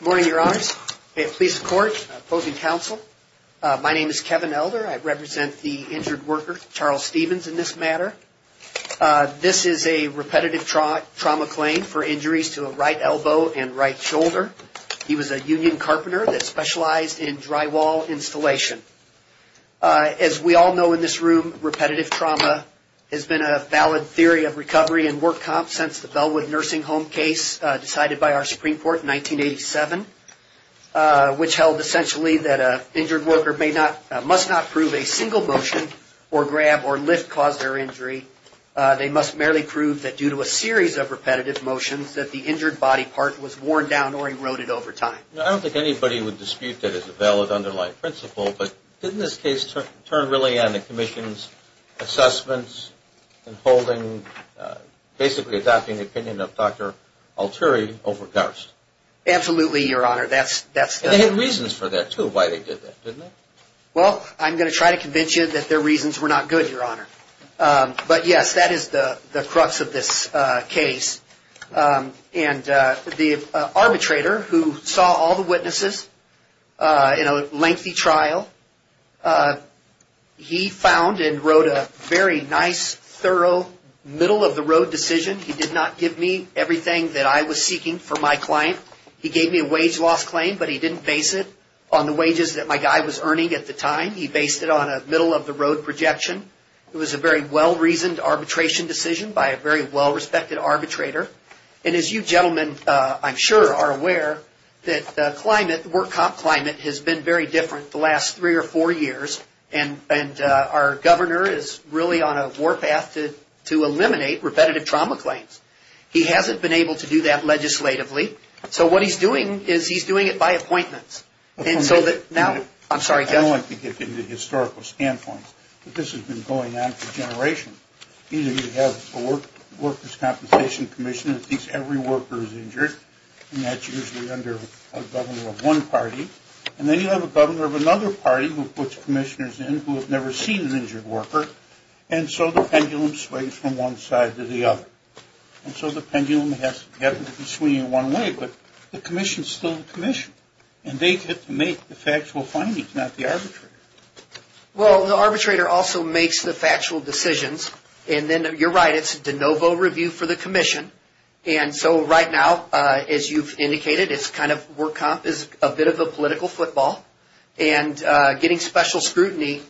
Morning, Your Honors. I have police report opposing counsel. My name is Kevin Elder. I represent the injured worker, Charles Stevens, in this matter. This is a repetitive trauma claim for injuries to a right elbow and right shoulder. He was a union carpenter that specialized in drywall installation. As we all know in this room, repetitive trauma has been a valid theory of recovery and work comp since the Bellwood Nursing Home case decided by our motion or grab or lift caused their injury. They must merely prove that due to a series of repetitive motions that the injured body part was worn down or eroded over time. I don't think anybody would dispute that it's a valid underlying principle, but didn't this case turn really on the Commission's assessments in holding, basically adopting the opinion of Dr. Alteri over Garst? Absolutely, Your Honor. That's... And they had reasons for that, too, why they did that, didn't they? Well, I'm going to try to convince you that their reasons were not good, Your Honor. But yes, that is the crux of this case. And the arbitrator who saw all the witnesses in a lengthy trial, he found and wrote a very nice, thorough, middle-of-the-road decision. He did not give me everything that I was seeking for my claim. He gave me a wage loss claim, but he didn't base it on the wages that my guy was earning at the time. He based it on a middle-of-the-road projection. It was a very well-reasoned arbitration decision by a very well-respected arbitrator. And as you gentlemen, I'm sure, are aware, that the work comp climate has been very different the last three or four years. And our governor is really on a warpath to eliminate repetitive trauma claims. He hasn't been able to do that legislatively. So what he's doing is he's making high appointments. I don't like to get into historical standpoints, but this has been going on for generations. Either you have a workers' compensation commission that thinks every worker is injured, and that's usually under a governor of one party. And then you have a governor of another party who puts commissioners in who have never seen an injured worker. And so the pendulum swings from one side to the other. And so the pendulum happens to be swinging one way, but the commission is still the commission. And they get to make the factual findings, not the arbitrator. Well, the arbitrator also makes the factual decisions. And then, you're right, it's a de novo review for the commission. And so right now, as you've indicated, it's kind of work comp is a bit of a political football and getting special scrutiny.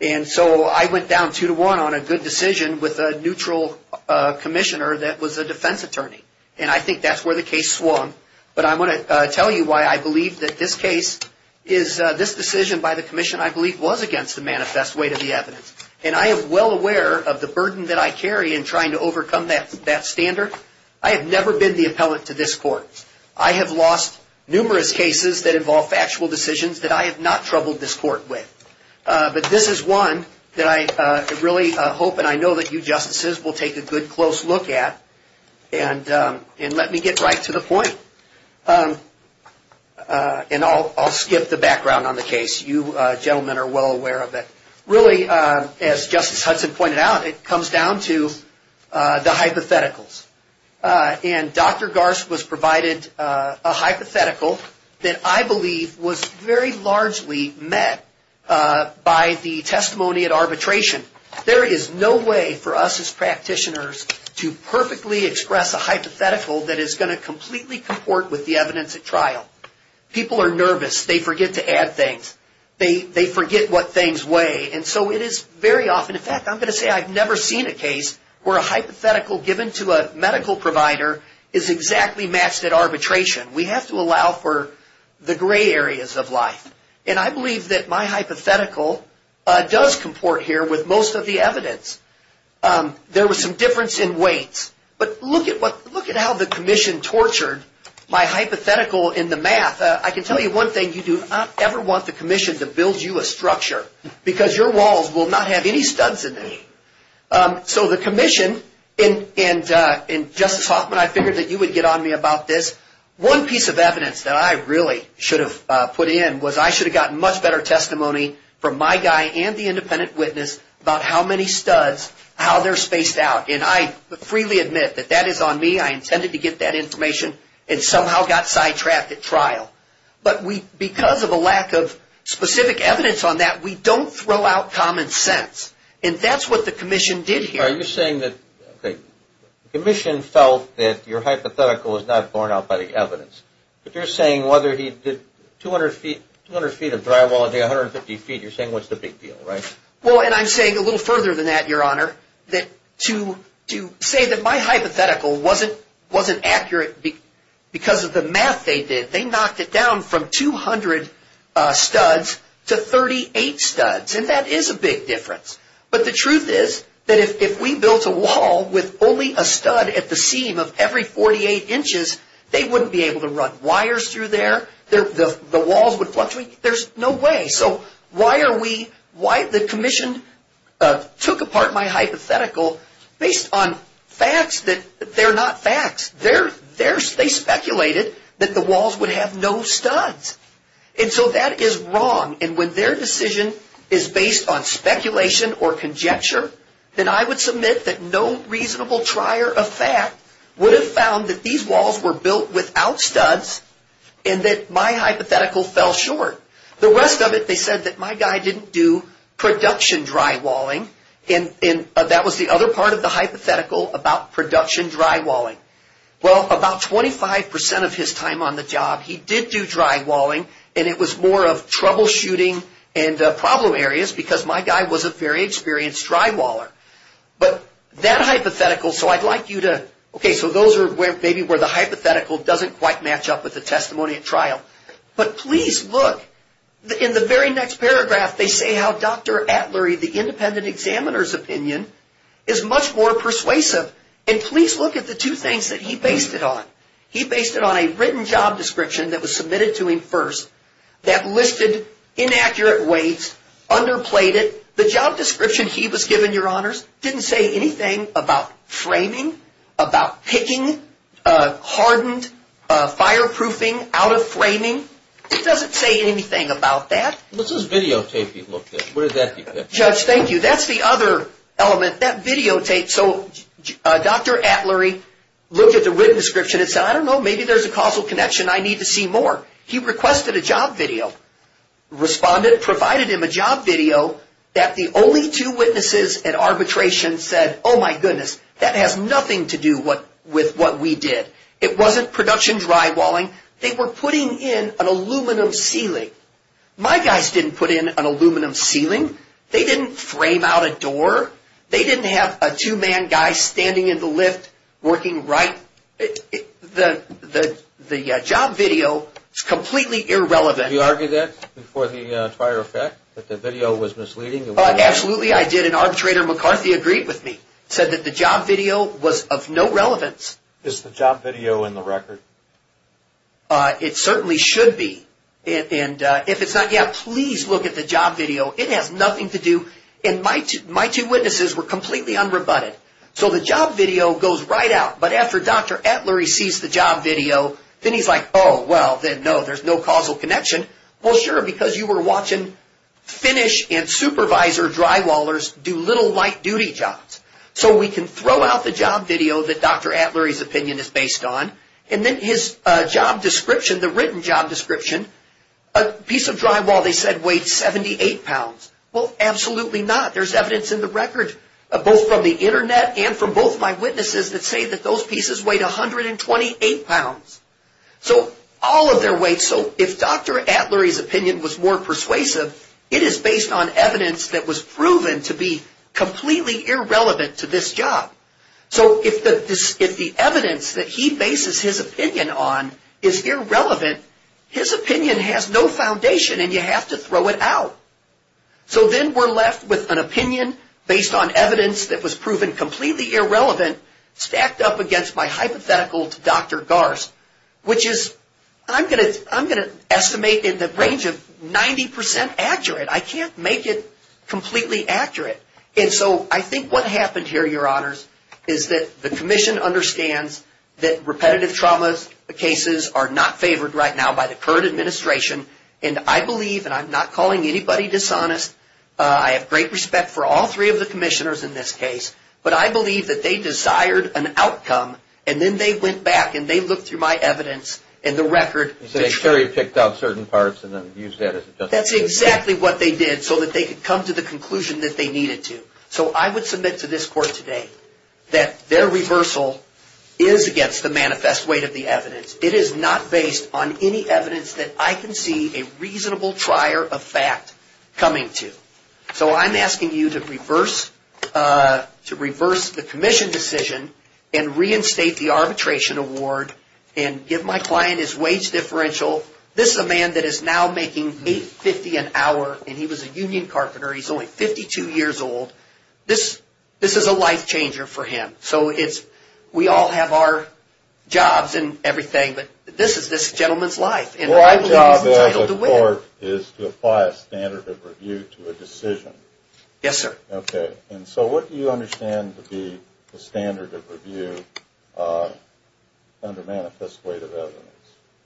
And so I went down two to one on a good decision with a neutral commissioner that was a defense attorney. And I think that's where the case swung. But I want to tell you why I believe that this case is, this decision by the commission, I believe, was against the manifest weight of the evidence. And I am well aware of the burden that I carry in trying to overcome that standard. I have never been the appellant to this court. I have lost numerous cases that involve factual decisions that I have not troubled this court with. But this is one that I really hope and I know that you justices will take a good close look at. And let me get right to the point. And I'll skip the background on the case. You gentlemen are well aware of it. Really, as Justice Hudson pointed out, it comes down to the hypotheticals. And Dr. Garst was provided a hypothetical that I believe was very largely met by the hypothetical that is going to completely comport with the evidence at trial. People are nervous. They forget to add things. They forget what things weigh. And so it is very often, in fact, I'm going to say I've never seen a case where a hypothetical given to a medical provider is exactly matched at arbitration. We have to allow for the gray areas of life. And I believe that my hypothetical does comport here with most of the evidence. There was some difference in weights. But look at how the commission tortured my hypothetical in the math. I can tell you one thing. You do not ever want the commission to build you a structure because your walls will not have any studs in them. So the commission and Justice Hoffman, I figured that you would get on me about this. One piece of evidence that I really should have put in was I should have gotten much better testimony from my guy and the trial. And I freely admit that that is on me. I intended to get that information and somehow got sidetracked at trial. But because of a lack of specific evidence on that, we don't throw out common sense. And that's what the commission did here. Are you saying that the commission felt that your hypothetical was not borne out by the evidence? But you're saying whether he did 200 feet of drywall and did 150 feet, you're saying what's the big deal, right? Well, and I'm saying a little further than that, Your Honor. To say that my hypothetical wasn't accurate because of the math they did. They knocked it down from 200 studs to 38 studs. And that is a big difference. But the truth is that if we built a wall with only a stud at the seam of every 48 inches, they wouldn't be able to run wires through there. The walls would fluctuate. There's no way. So why the commission took apart my hypothetical based on facts that they're not facts. They speculated that the walls would have no studs. And so that is wrong. And when their decision is based on speculation or conjecture, then I would submit that no reasonable trier of fact would have found that these walls were without studs and that my hypothetical fell short. The rest of it, they said that my guy didn't do production drywalling. And that was the other part of the hypothetical about production drywalling. Well, about 25% of his time on the job, he did do drywalling and it was more of troubleshooting and problem areas because my guy was a very experienced drywaller. But that hypothetical, so I'd like you to, okay, so those are maybe where the hypothetical doesn't quite match up with the testimony at trial. But please look. In the very next paragraph, they say how Dr. Atlery, the independent examiner's opinion, is much more persuasive. And please look at the two things that he based it on. He based it on a written job description that was submitted to him first that listed inaccurate weights, underplayed it. The job description he was given, your honors, didn't say anything about framing, about picking hardened fireproofing out of framing. It doesn't say anything about that. What's this videotape you looked at? Where did that come from? Judge, thank you. That's the other element. That videotape, so Dr. Atlery looked at the written description and said, I don't know, maybe there's a causal connection. I need to see more. He requested a job video. Respondent provided him a job video that the only two witnesses at arbitration said, oh my goodness, that has nothing to do with what we did. It wasn't production drywalling. They were putting in an aluminum ceiling. My guys didn't put in an aluminum ceiling. They didn't frame out a door. They didn't have a two-man guy standing in the lift working right. The job video is completely irrelevant. Did you argue that before the prior effect, that the video was misleading? Absolutely, I did. And arbitrator McCarthy agreed with me. He said that the job video was of no relevance. Is the job video in the record? It certainly should be. And if it's not, yeah, please look at the video. The job video goes right out, but after Dr. Atlery sees the job video, then he's like, oh, well, then no, there's no causal connection. Well, sure, because you were watching finish and supervisor drywallers do little light-duty jobs. So we can throw out the job video that Dr. Atlery's opinion is based on and then his job description, the written job description, a piece of drywall they said weighed 78 pounds. Well, absolutely not. There's evidence in the record, both from the internet and from both my witnesses that say that those pieces weighed 128 pounds. So all of their weights, so if Dr. Atlery's opinion was more persuasive, it is based on evidence that was proven to be completely irrelevant to this job. So if the evidence that he bases his opinion on is irrelevant, his opinion has no foundation and you have to throw it out. So then we're left with an opinion based on evidence that was proven completely irrelevant stacked up against my hypothetical to Dr. Garst, which is, I'm going to estimate in the range of 90% accurate. I can't make it completely accurate. And so I think what happened here, your honors, is that the commission understands that repetitive trauma cases are not favored right now by the current administration and I believe, and I'm not calling anybody dishonest. I have great respect for all three of the commissioners in this case, but I believe that they desired an outcome and then they went back and they looked through my evidence and the record. That's exactly what they did so that they could come to the conclusion that they needed to. So I would submit to this court today that their reversal is against the manifest weight of the evidence. It is not based on any evidence that I can see a reasonable trier of fact coming to. So I'm asking you to reverse the commission decision and reinstate the arbitration award and give my client his wage differential. This is a man that is now making $8.50 an hour and he was a union carpenter. He's only 52 years old. This is a life changer for him. We all have our jobs and everything, but this is this gentleman's life. My job as a court is to apply a standard of review to a decision. And so what do you understand to be the standard of review under manifest weight of evidence?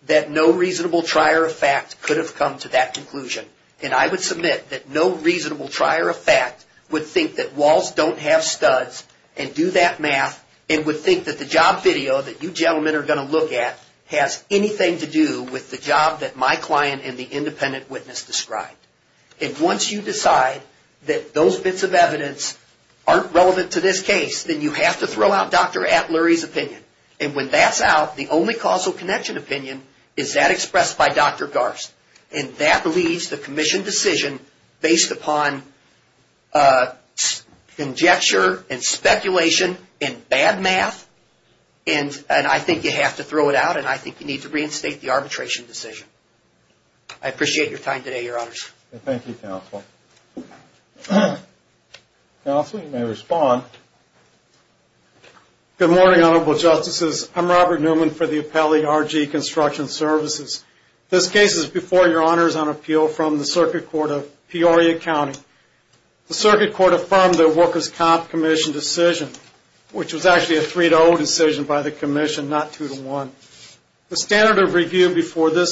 That no reasonable trier of fact could have come to that conclusion. And I would submit that no reasonable trier of fact would think that walls don't have studs and do that job that my client and the independent witness described. And once you decide that those bits of evidence aren't relevant to this case, then you have to throw out Dr. Atleury's opinion. And when that's out, the only causal connection opinion is that expressed by Dr. Garst. And that leaves the commission decision based upon conjecture and speculation and bad math. And I think you have to throw it out and I think you need to reinstate the arbitration decision. I appreciate your time today, Your Honors. Thank you, Counsel. Counsel, you may respond. Good morning, Honorable Justices. I'm Robert Newman for the Appellee RG Construction Services. This case is before Your Honors on appeal from the Circuit Court of Peoria County. The Circuit Court affirmed the Workers' Comp Commission decision, which was actually a 3-0 decision by the commission, not 2-1. The standard of review before the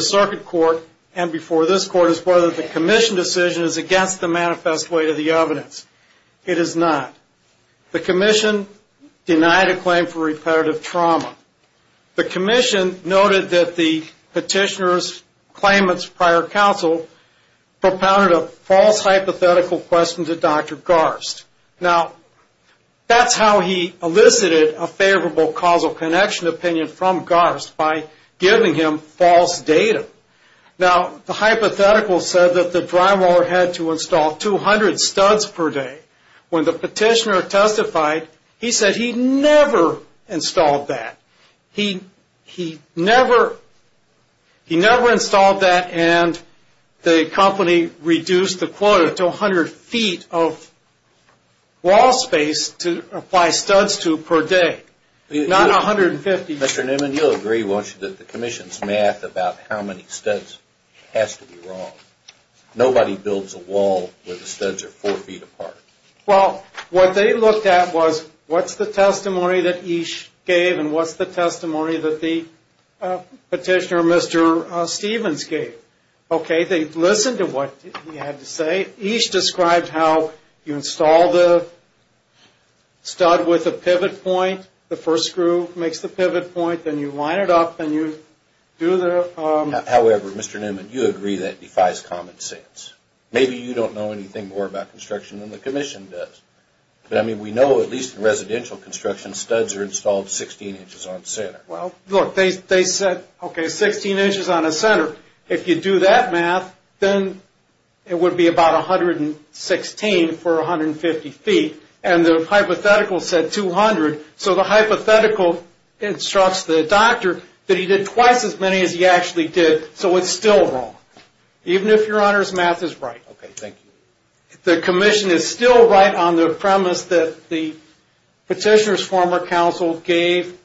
Circuit Court and before this Court is whether the commission decision is against the manifest weight of the evidence. It is not. The commission denied a claim for repetitive trauma. The commission noted that the petitioner's claimant's prior counsel propounded a false hypothetical question to Dr. Garst. Now, that's how he elicited a favorable causal connection opinion from Garst, by giving him false data. Now, the hypothetical said that the drywaller had to install 200 studs per day. When the petitioner testified, he said he never installed that. He never installed that and the company reduced the quota to 100 feet of wall space to apply studs to per day. Mr. Newman, you'll agree, won't you, that the commission's math about how many studs has to be wrong. Nobody builds a wall where the studs are 4 feet apart. Well, what they looked at was what's the testimony that Each gave and what's the testimony that the petitioner, Mr. Stevens, gave. Okay, they listened to what he had to say. Each described how you install the stud with a pivot point. The first screw makes the pivot point. Then you line it up and you do the... However, Mr. Newman, you agree that defies common sense. Maybe you don't know anything more about construction than the commission does. But, I mean, we know at least in residential construction, studs are installed 16 inches on center. Well, look, they said 16 inches on a center. If you do that math, then it would be about 116 for 150 feet. And the hypothetical said 200. So the hypothetical instructs the doctor that he did twice as many as he actually did. So it's still wrong. Even if your honor's math is right. Okay, thank you. The commission is still right on the premise that the petitioner's former counsel gave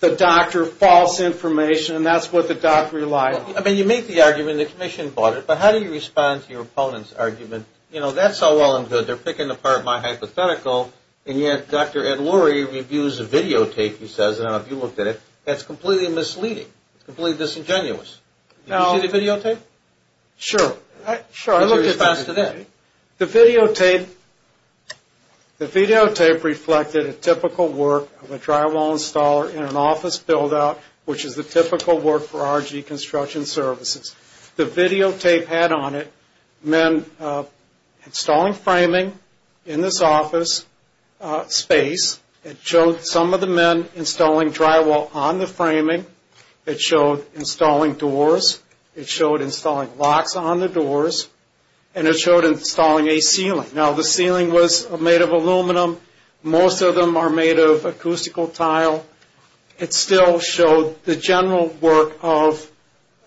the doctor false information and that's what the doctor relied on. I mean, you make the argument and the commission bought it, but how do you respond to your opponent's argument? You know, that's all well and good. They're picking apart my hypothetical and yet Dr. Ed Lurie reviews a videotape he says, and I don't know if you looked at it. That's completely misleading. It's completely disingenuous. Did you see the videotape? Sure. I looked at it. The videotape reflected a typical work of a drywall installer in an office buildout, which is the typical work for RG Construction Services. The videotape had on it men installing drywall on the framing. It showed installing doors. It showed installing locks on the doors. And it showed installing a ceiling. Now the ceiling was made of aluminum. Most of them are made of acoustical tile. It still showed the general work of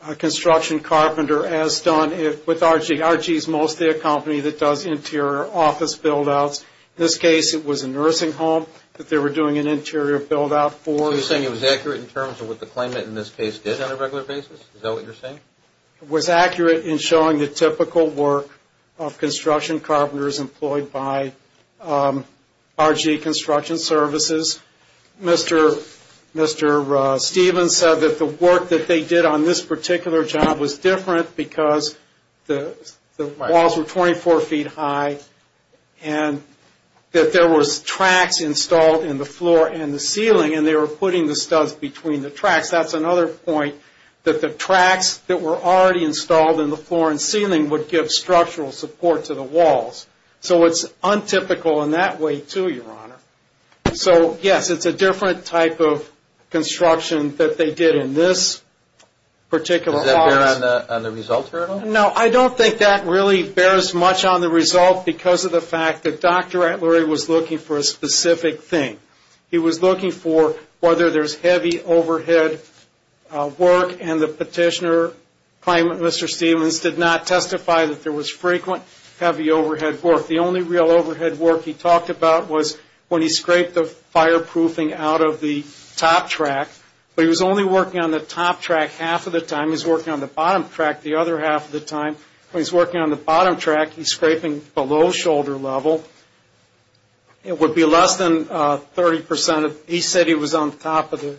a construction carpenter as done with RG. RG is mostly a company that does interior office buildouts. In this case, it was a nursing home that they were doing an interior buildout for. So you're saying it was accurate in terms of what the claimant in this case did on a regular basis? Is that what you're saying? It was accurate in showing the typical work of construction carpenters employed by RG Construction Services. Mr. Stevens said that the work that they did on this particular job was different because the walls were 24 feet high. And that there were tracks installed in the floor and the ceiling. And they were putting the studs between the tracks. That's another point. That the tracks that were already installed in the floor and ceiling would give structural support to the walls. So it's untypical in that way too, Your Honor. So yes, it's a different type of construction that they did in this particular office. Does that bear on the result, Your Honor? No, I don't think that really bears much on the result because of the fact that Dr. Antleri was looking for a specific thing. He was looking for whether there's heavy overhead work and the petitioner claimant, Mr. Stevens, did not when he scraped the fireproofing out of the top track. But he was only working on the top track half of the time. He was working on the bottom track the other half of the time. When he's working on the bottom track, he's scraping below shoulder level. It would be less than 30 percent. He said he was on top of the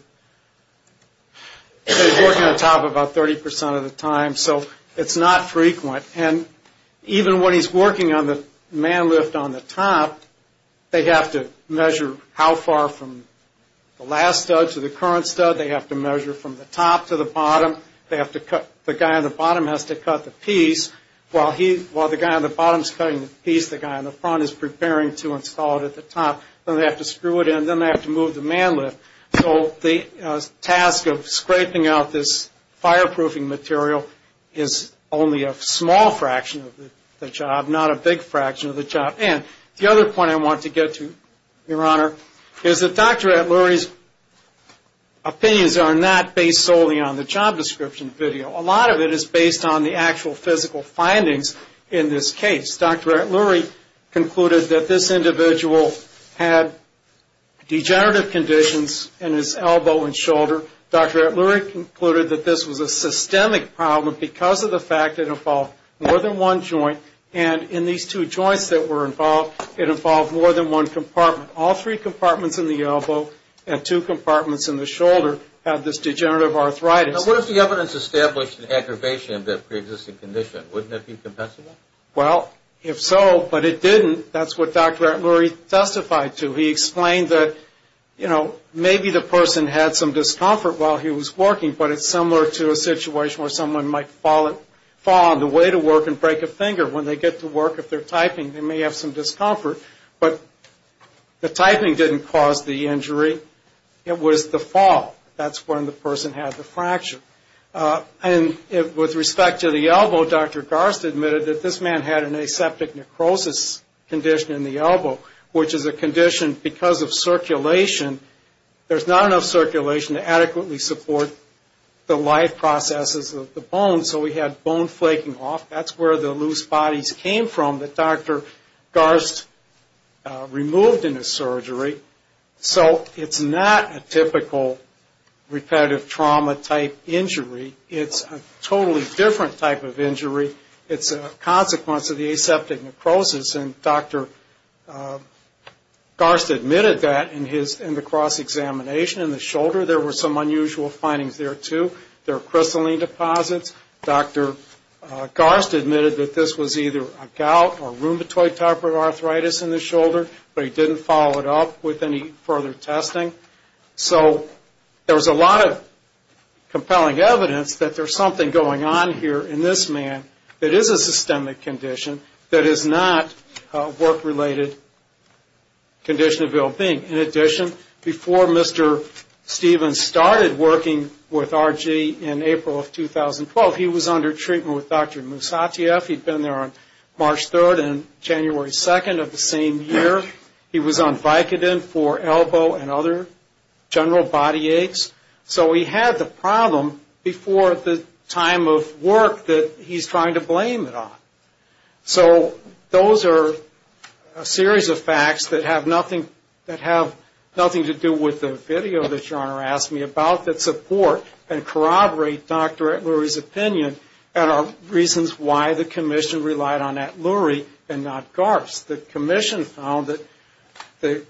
top about 30 percent of the time. So it's not frequent. And even when he's working on the man lift on the top, they have to measure how far from the last stud to the current stud. They have to measure from the top to the bottom. The guy on the bottom has to cut the piece while the guy on the bottom is cutting the piece. The guy on the front is preparing to install it at the top. Then they have to screw it in. Then they have to move the man lift. So the task of scraping out this fireproofing material is only a small fraction of the job, not a big fraction of the job. The other point I want to get to, Your Honor, is that Dr. Atluri's opinions are not based solely on the job description video. A lot of it is based on the actual physical findings in this case. Dr. Atluri concluded that this individual had degenerative conditions in his elbow and shoulder. Dr. Atluri concluded that this was a systemic problem because of the fact it involved more than one joint. And in these two joints that were involved, it involved more than one compartment. All three compartments in the elbow and two compartments in the shoulder had this degenerative arthritis. Now, what if the evidence established an aggravation of that preexisting condition? Wouldn't it be compensable? Well, if so, but it didn't, that's what Dr. Atluri testified to. He explained that, you know, maybe the person had some discomfort while he was working, but it's similar to a situation where someone might fall on the way to work and break a finger. When they get to work, if they're typing, they may have some discomfort. But the typing didn't cause the injury. It was the fall. That's when the person had the fracture. And with respect to the elbow, Dr. Garst admitted that this man had an aseptic necrosis condition in the elbow, which is a condition because of circulation. There's not enough circulation to adequately support the life processes of the bone, so he had bone flaking off. That's where the loose bodies came from that Dr. Garst removed in his surgery. So it's not a typical repetitive trauma type injury. It's a totally different type of injury. It's a consequence of the aseptic necrosis, and Dr. Garst admitted that in the cross-examination in the shoulder. There were some unusual findings there, too. There are crystalline deposits. Dr. Garst admitted that this was either a gout or rheumatoid type of arthritis in the shoulder, but he didn't follow it up with any further testing. So there was a lot of compelling evidence that there's something going on here in this man that is a systemic condition that is not a work-related condition of ill-being. In addition, before Mr. Stevens started working with RG in April of 2012, he was under treatment with Dr. Moussatieff. He'd been there on March 3rd and January 2nd of the same year. He was on Vicodin for elbow and other general body aches. So he had the problem before the time of work that he's trying to blame it on. So those are a series of facts that have nothing to do with the video that Your Honor asked me about that support and why the commission relied on Atluri and not Garst. The commission found that the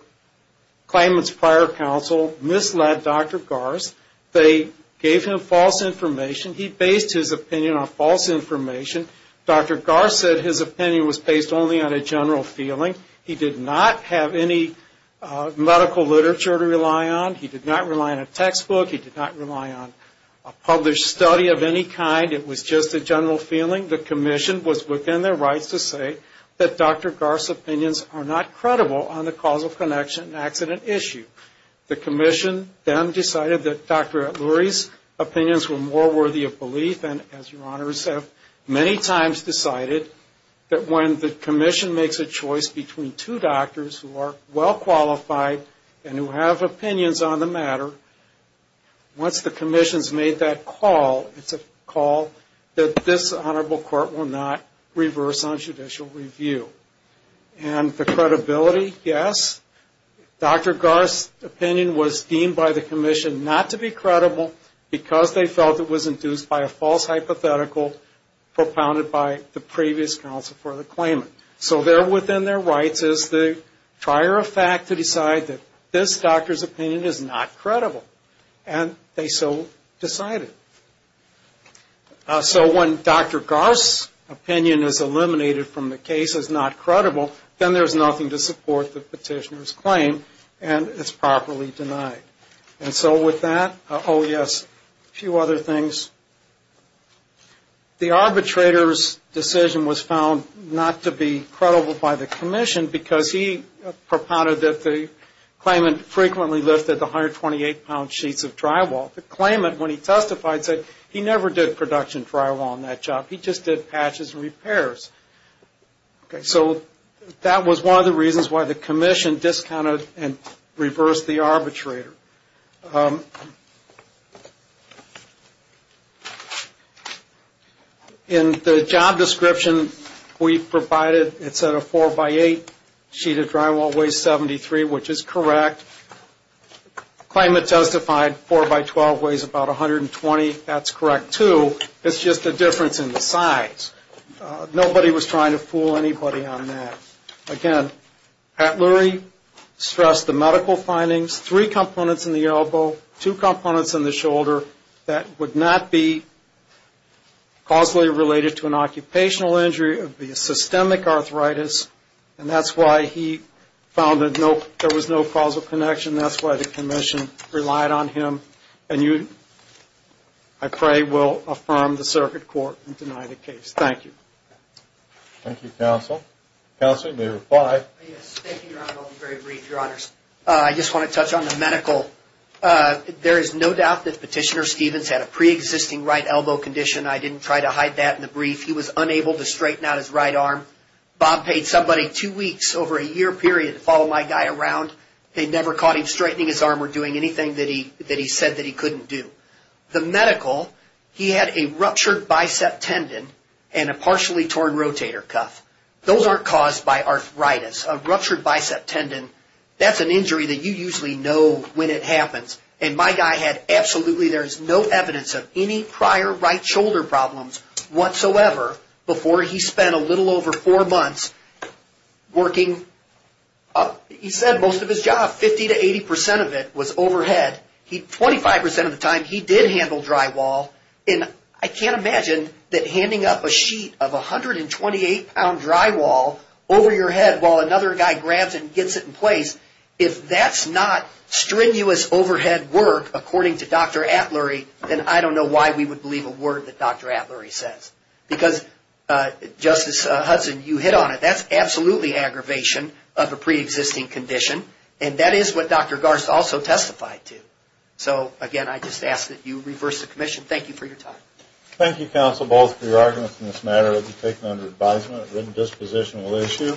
claimant's prior counsel misled Dr. Garst. They gave him false information. He based his opinion on false information. Dr. Garst said his opinion was based only on a general feeling. He did not have any medical literature to rely on. He did not rely on a textbook. He did not rely on a published study of any kind. It was just a general feeling. The commission was within their rights to say that Dr. Garst's opinions are not credible on the causal connection and accident issue. The commission then decided that Dr. Atluri's opinions were more worthy of belief and, as Your Honor said, many times decided that when the commission makes a choice between two doctors who are well-qualified and who have opinions on the matter, once the commission's made that call, it's a call that this Honorable Court will not reverse on judicial review. And the credibility, yes. Dr. Garst's opinion was deemed by the commission not to be credible because they felt it was induced by a false hypothetical propounded by the previous counsel for the claimant. So they're within their rights as the trier of fact to decide that this doctor's opinion is not credible. And they so decided. So when Dr. Garst's opinion is eliminated from the case as not credible, then there's nothing to support the petitioner's claim and it's properly denied. And so with that, oh yes, a few other things. The arbitrator's decision was found not to be credible by the commission. The claimant, when he testified, said he never did production drywall in that job. He just did patches and repairs. So that was one of the reasons why the commission discounted and reversed the arbitrator. In the job description we provided, it said a 4-by-8 sheet of drywall weighs 73, which is correct. The claimant testified 4-by-12 weighs about 120. That's correct, too. It's just a difference in the size. Nobody was trying to fool anybody on that. Again, Pat Lurie stressed the medical findings, three components in the elbow, two components in the shoulder that would not be causally related to an occupational injury. It would be a systemic arthritis. And that's why he found that there was no causal connection between the two. There was no causal connection. That's why the commission relied on him. And I pray we'll affirm the circuit court and deny the case. Thank you. Thank you, counsel. Counsel, you may reply. I just want to touch on the medical. There is no doubt that Petitioner Stevens had a pre-existing right elbow condition. I didn't try to hide that in the brief. He was unable to straighten out his right arm. Bob paid somebody two weeks over a year period to follow my guy around. They never caught him straightening his arm or doing anything that he said that he couldn't do. The medical, he had a ruptured bicep tendon and a partially torn rotator cuff. Those aren't caused by arthritis. A ruptured bicep tendon, that's an injury that you usually know when it happens. And my guy had absolutely, there's no evidence of any prior right shoulder problems whatsoever before he spent a little over four months working. He said most of his job, 50 to 80% of it was overhead. 25% of the time he did handle drywall. And I can't imagine that handing up a sheet of 128-pound drywall over your head while another guy grabs it and gets it in place, if that's not strenuous overheading, that's not a good thing. If he hadn't said work according to Dr. Atlery, then I don't know why we would believe a word that Dr. Atlery says. Because, Justice Hudson, you hit on it. That's absolutely aggravation of a pre-existing condition. And that is what Dr. Garst also testified to. So again, I just ask that you reverse the commission. Thank you for your time. Thank you, counsel, both for your arguments in this matter. It will be taken under advisement. A written disposition will issue.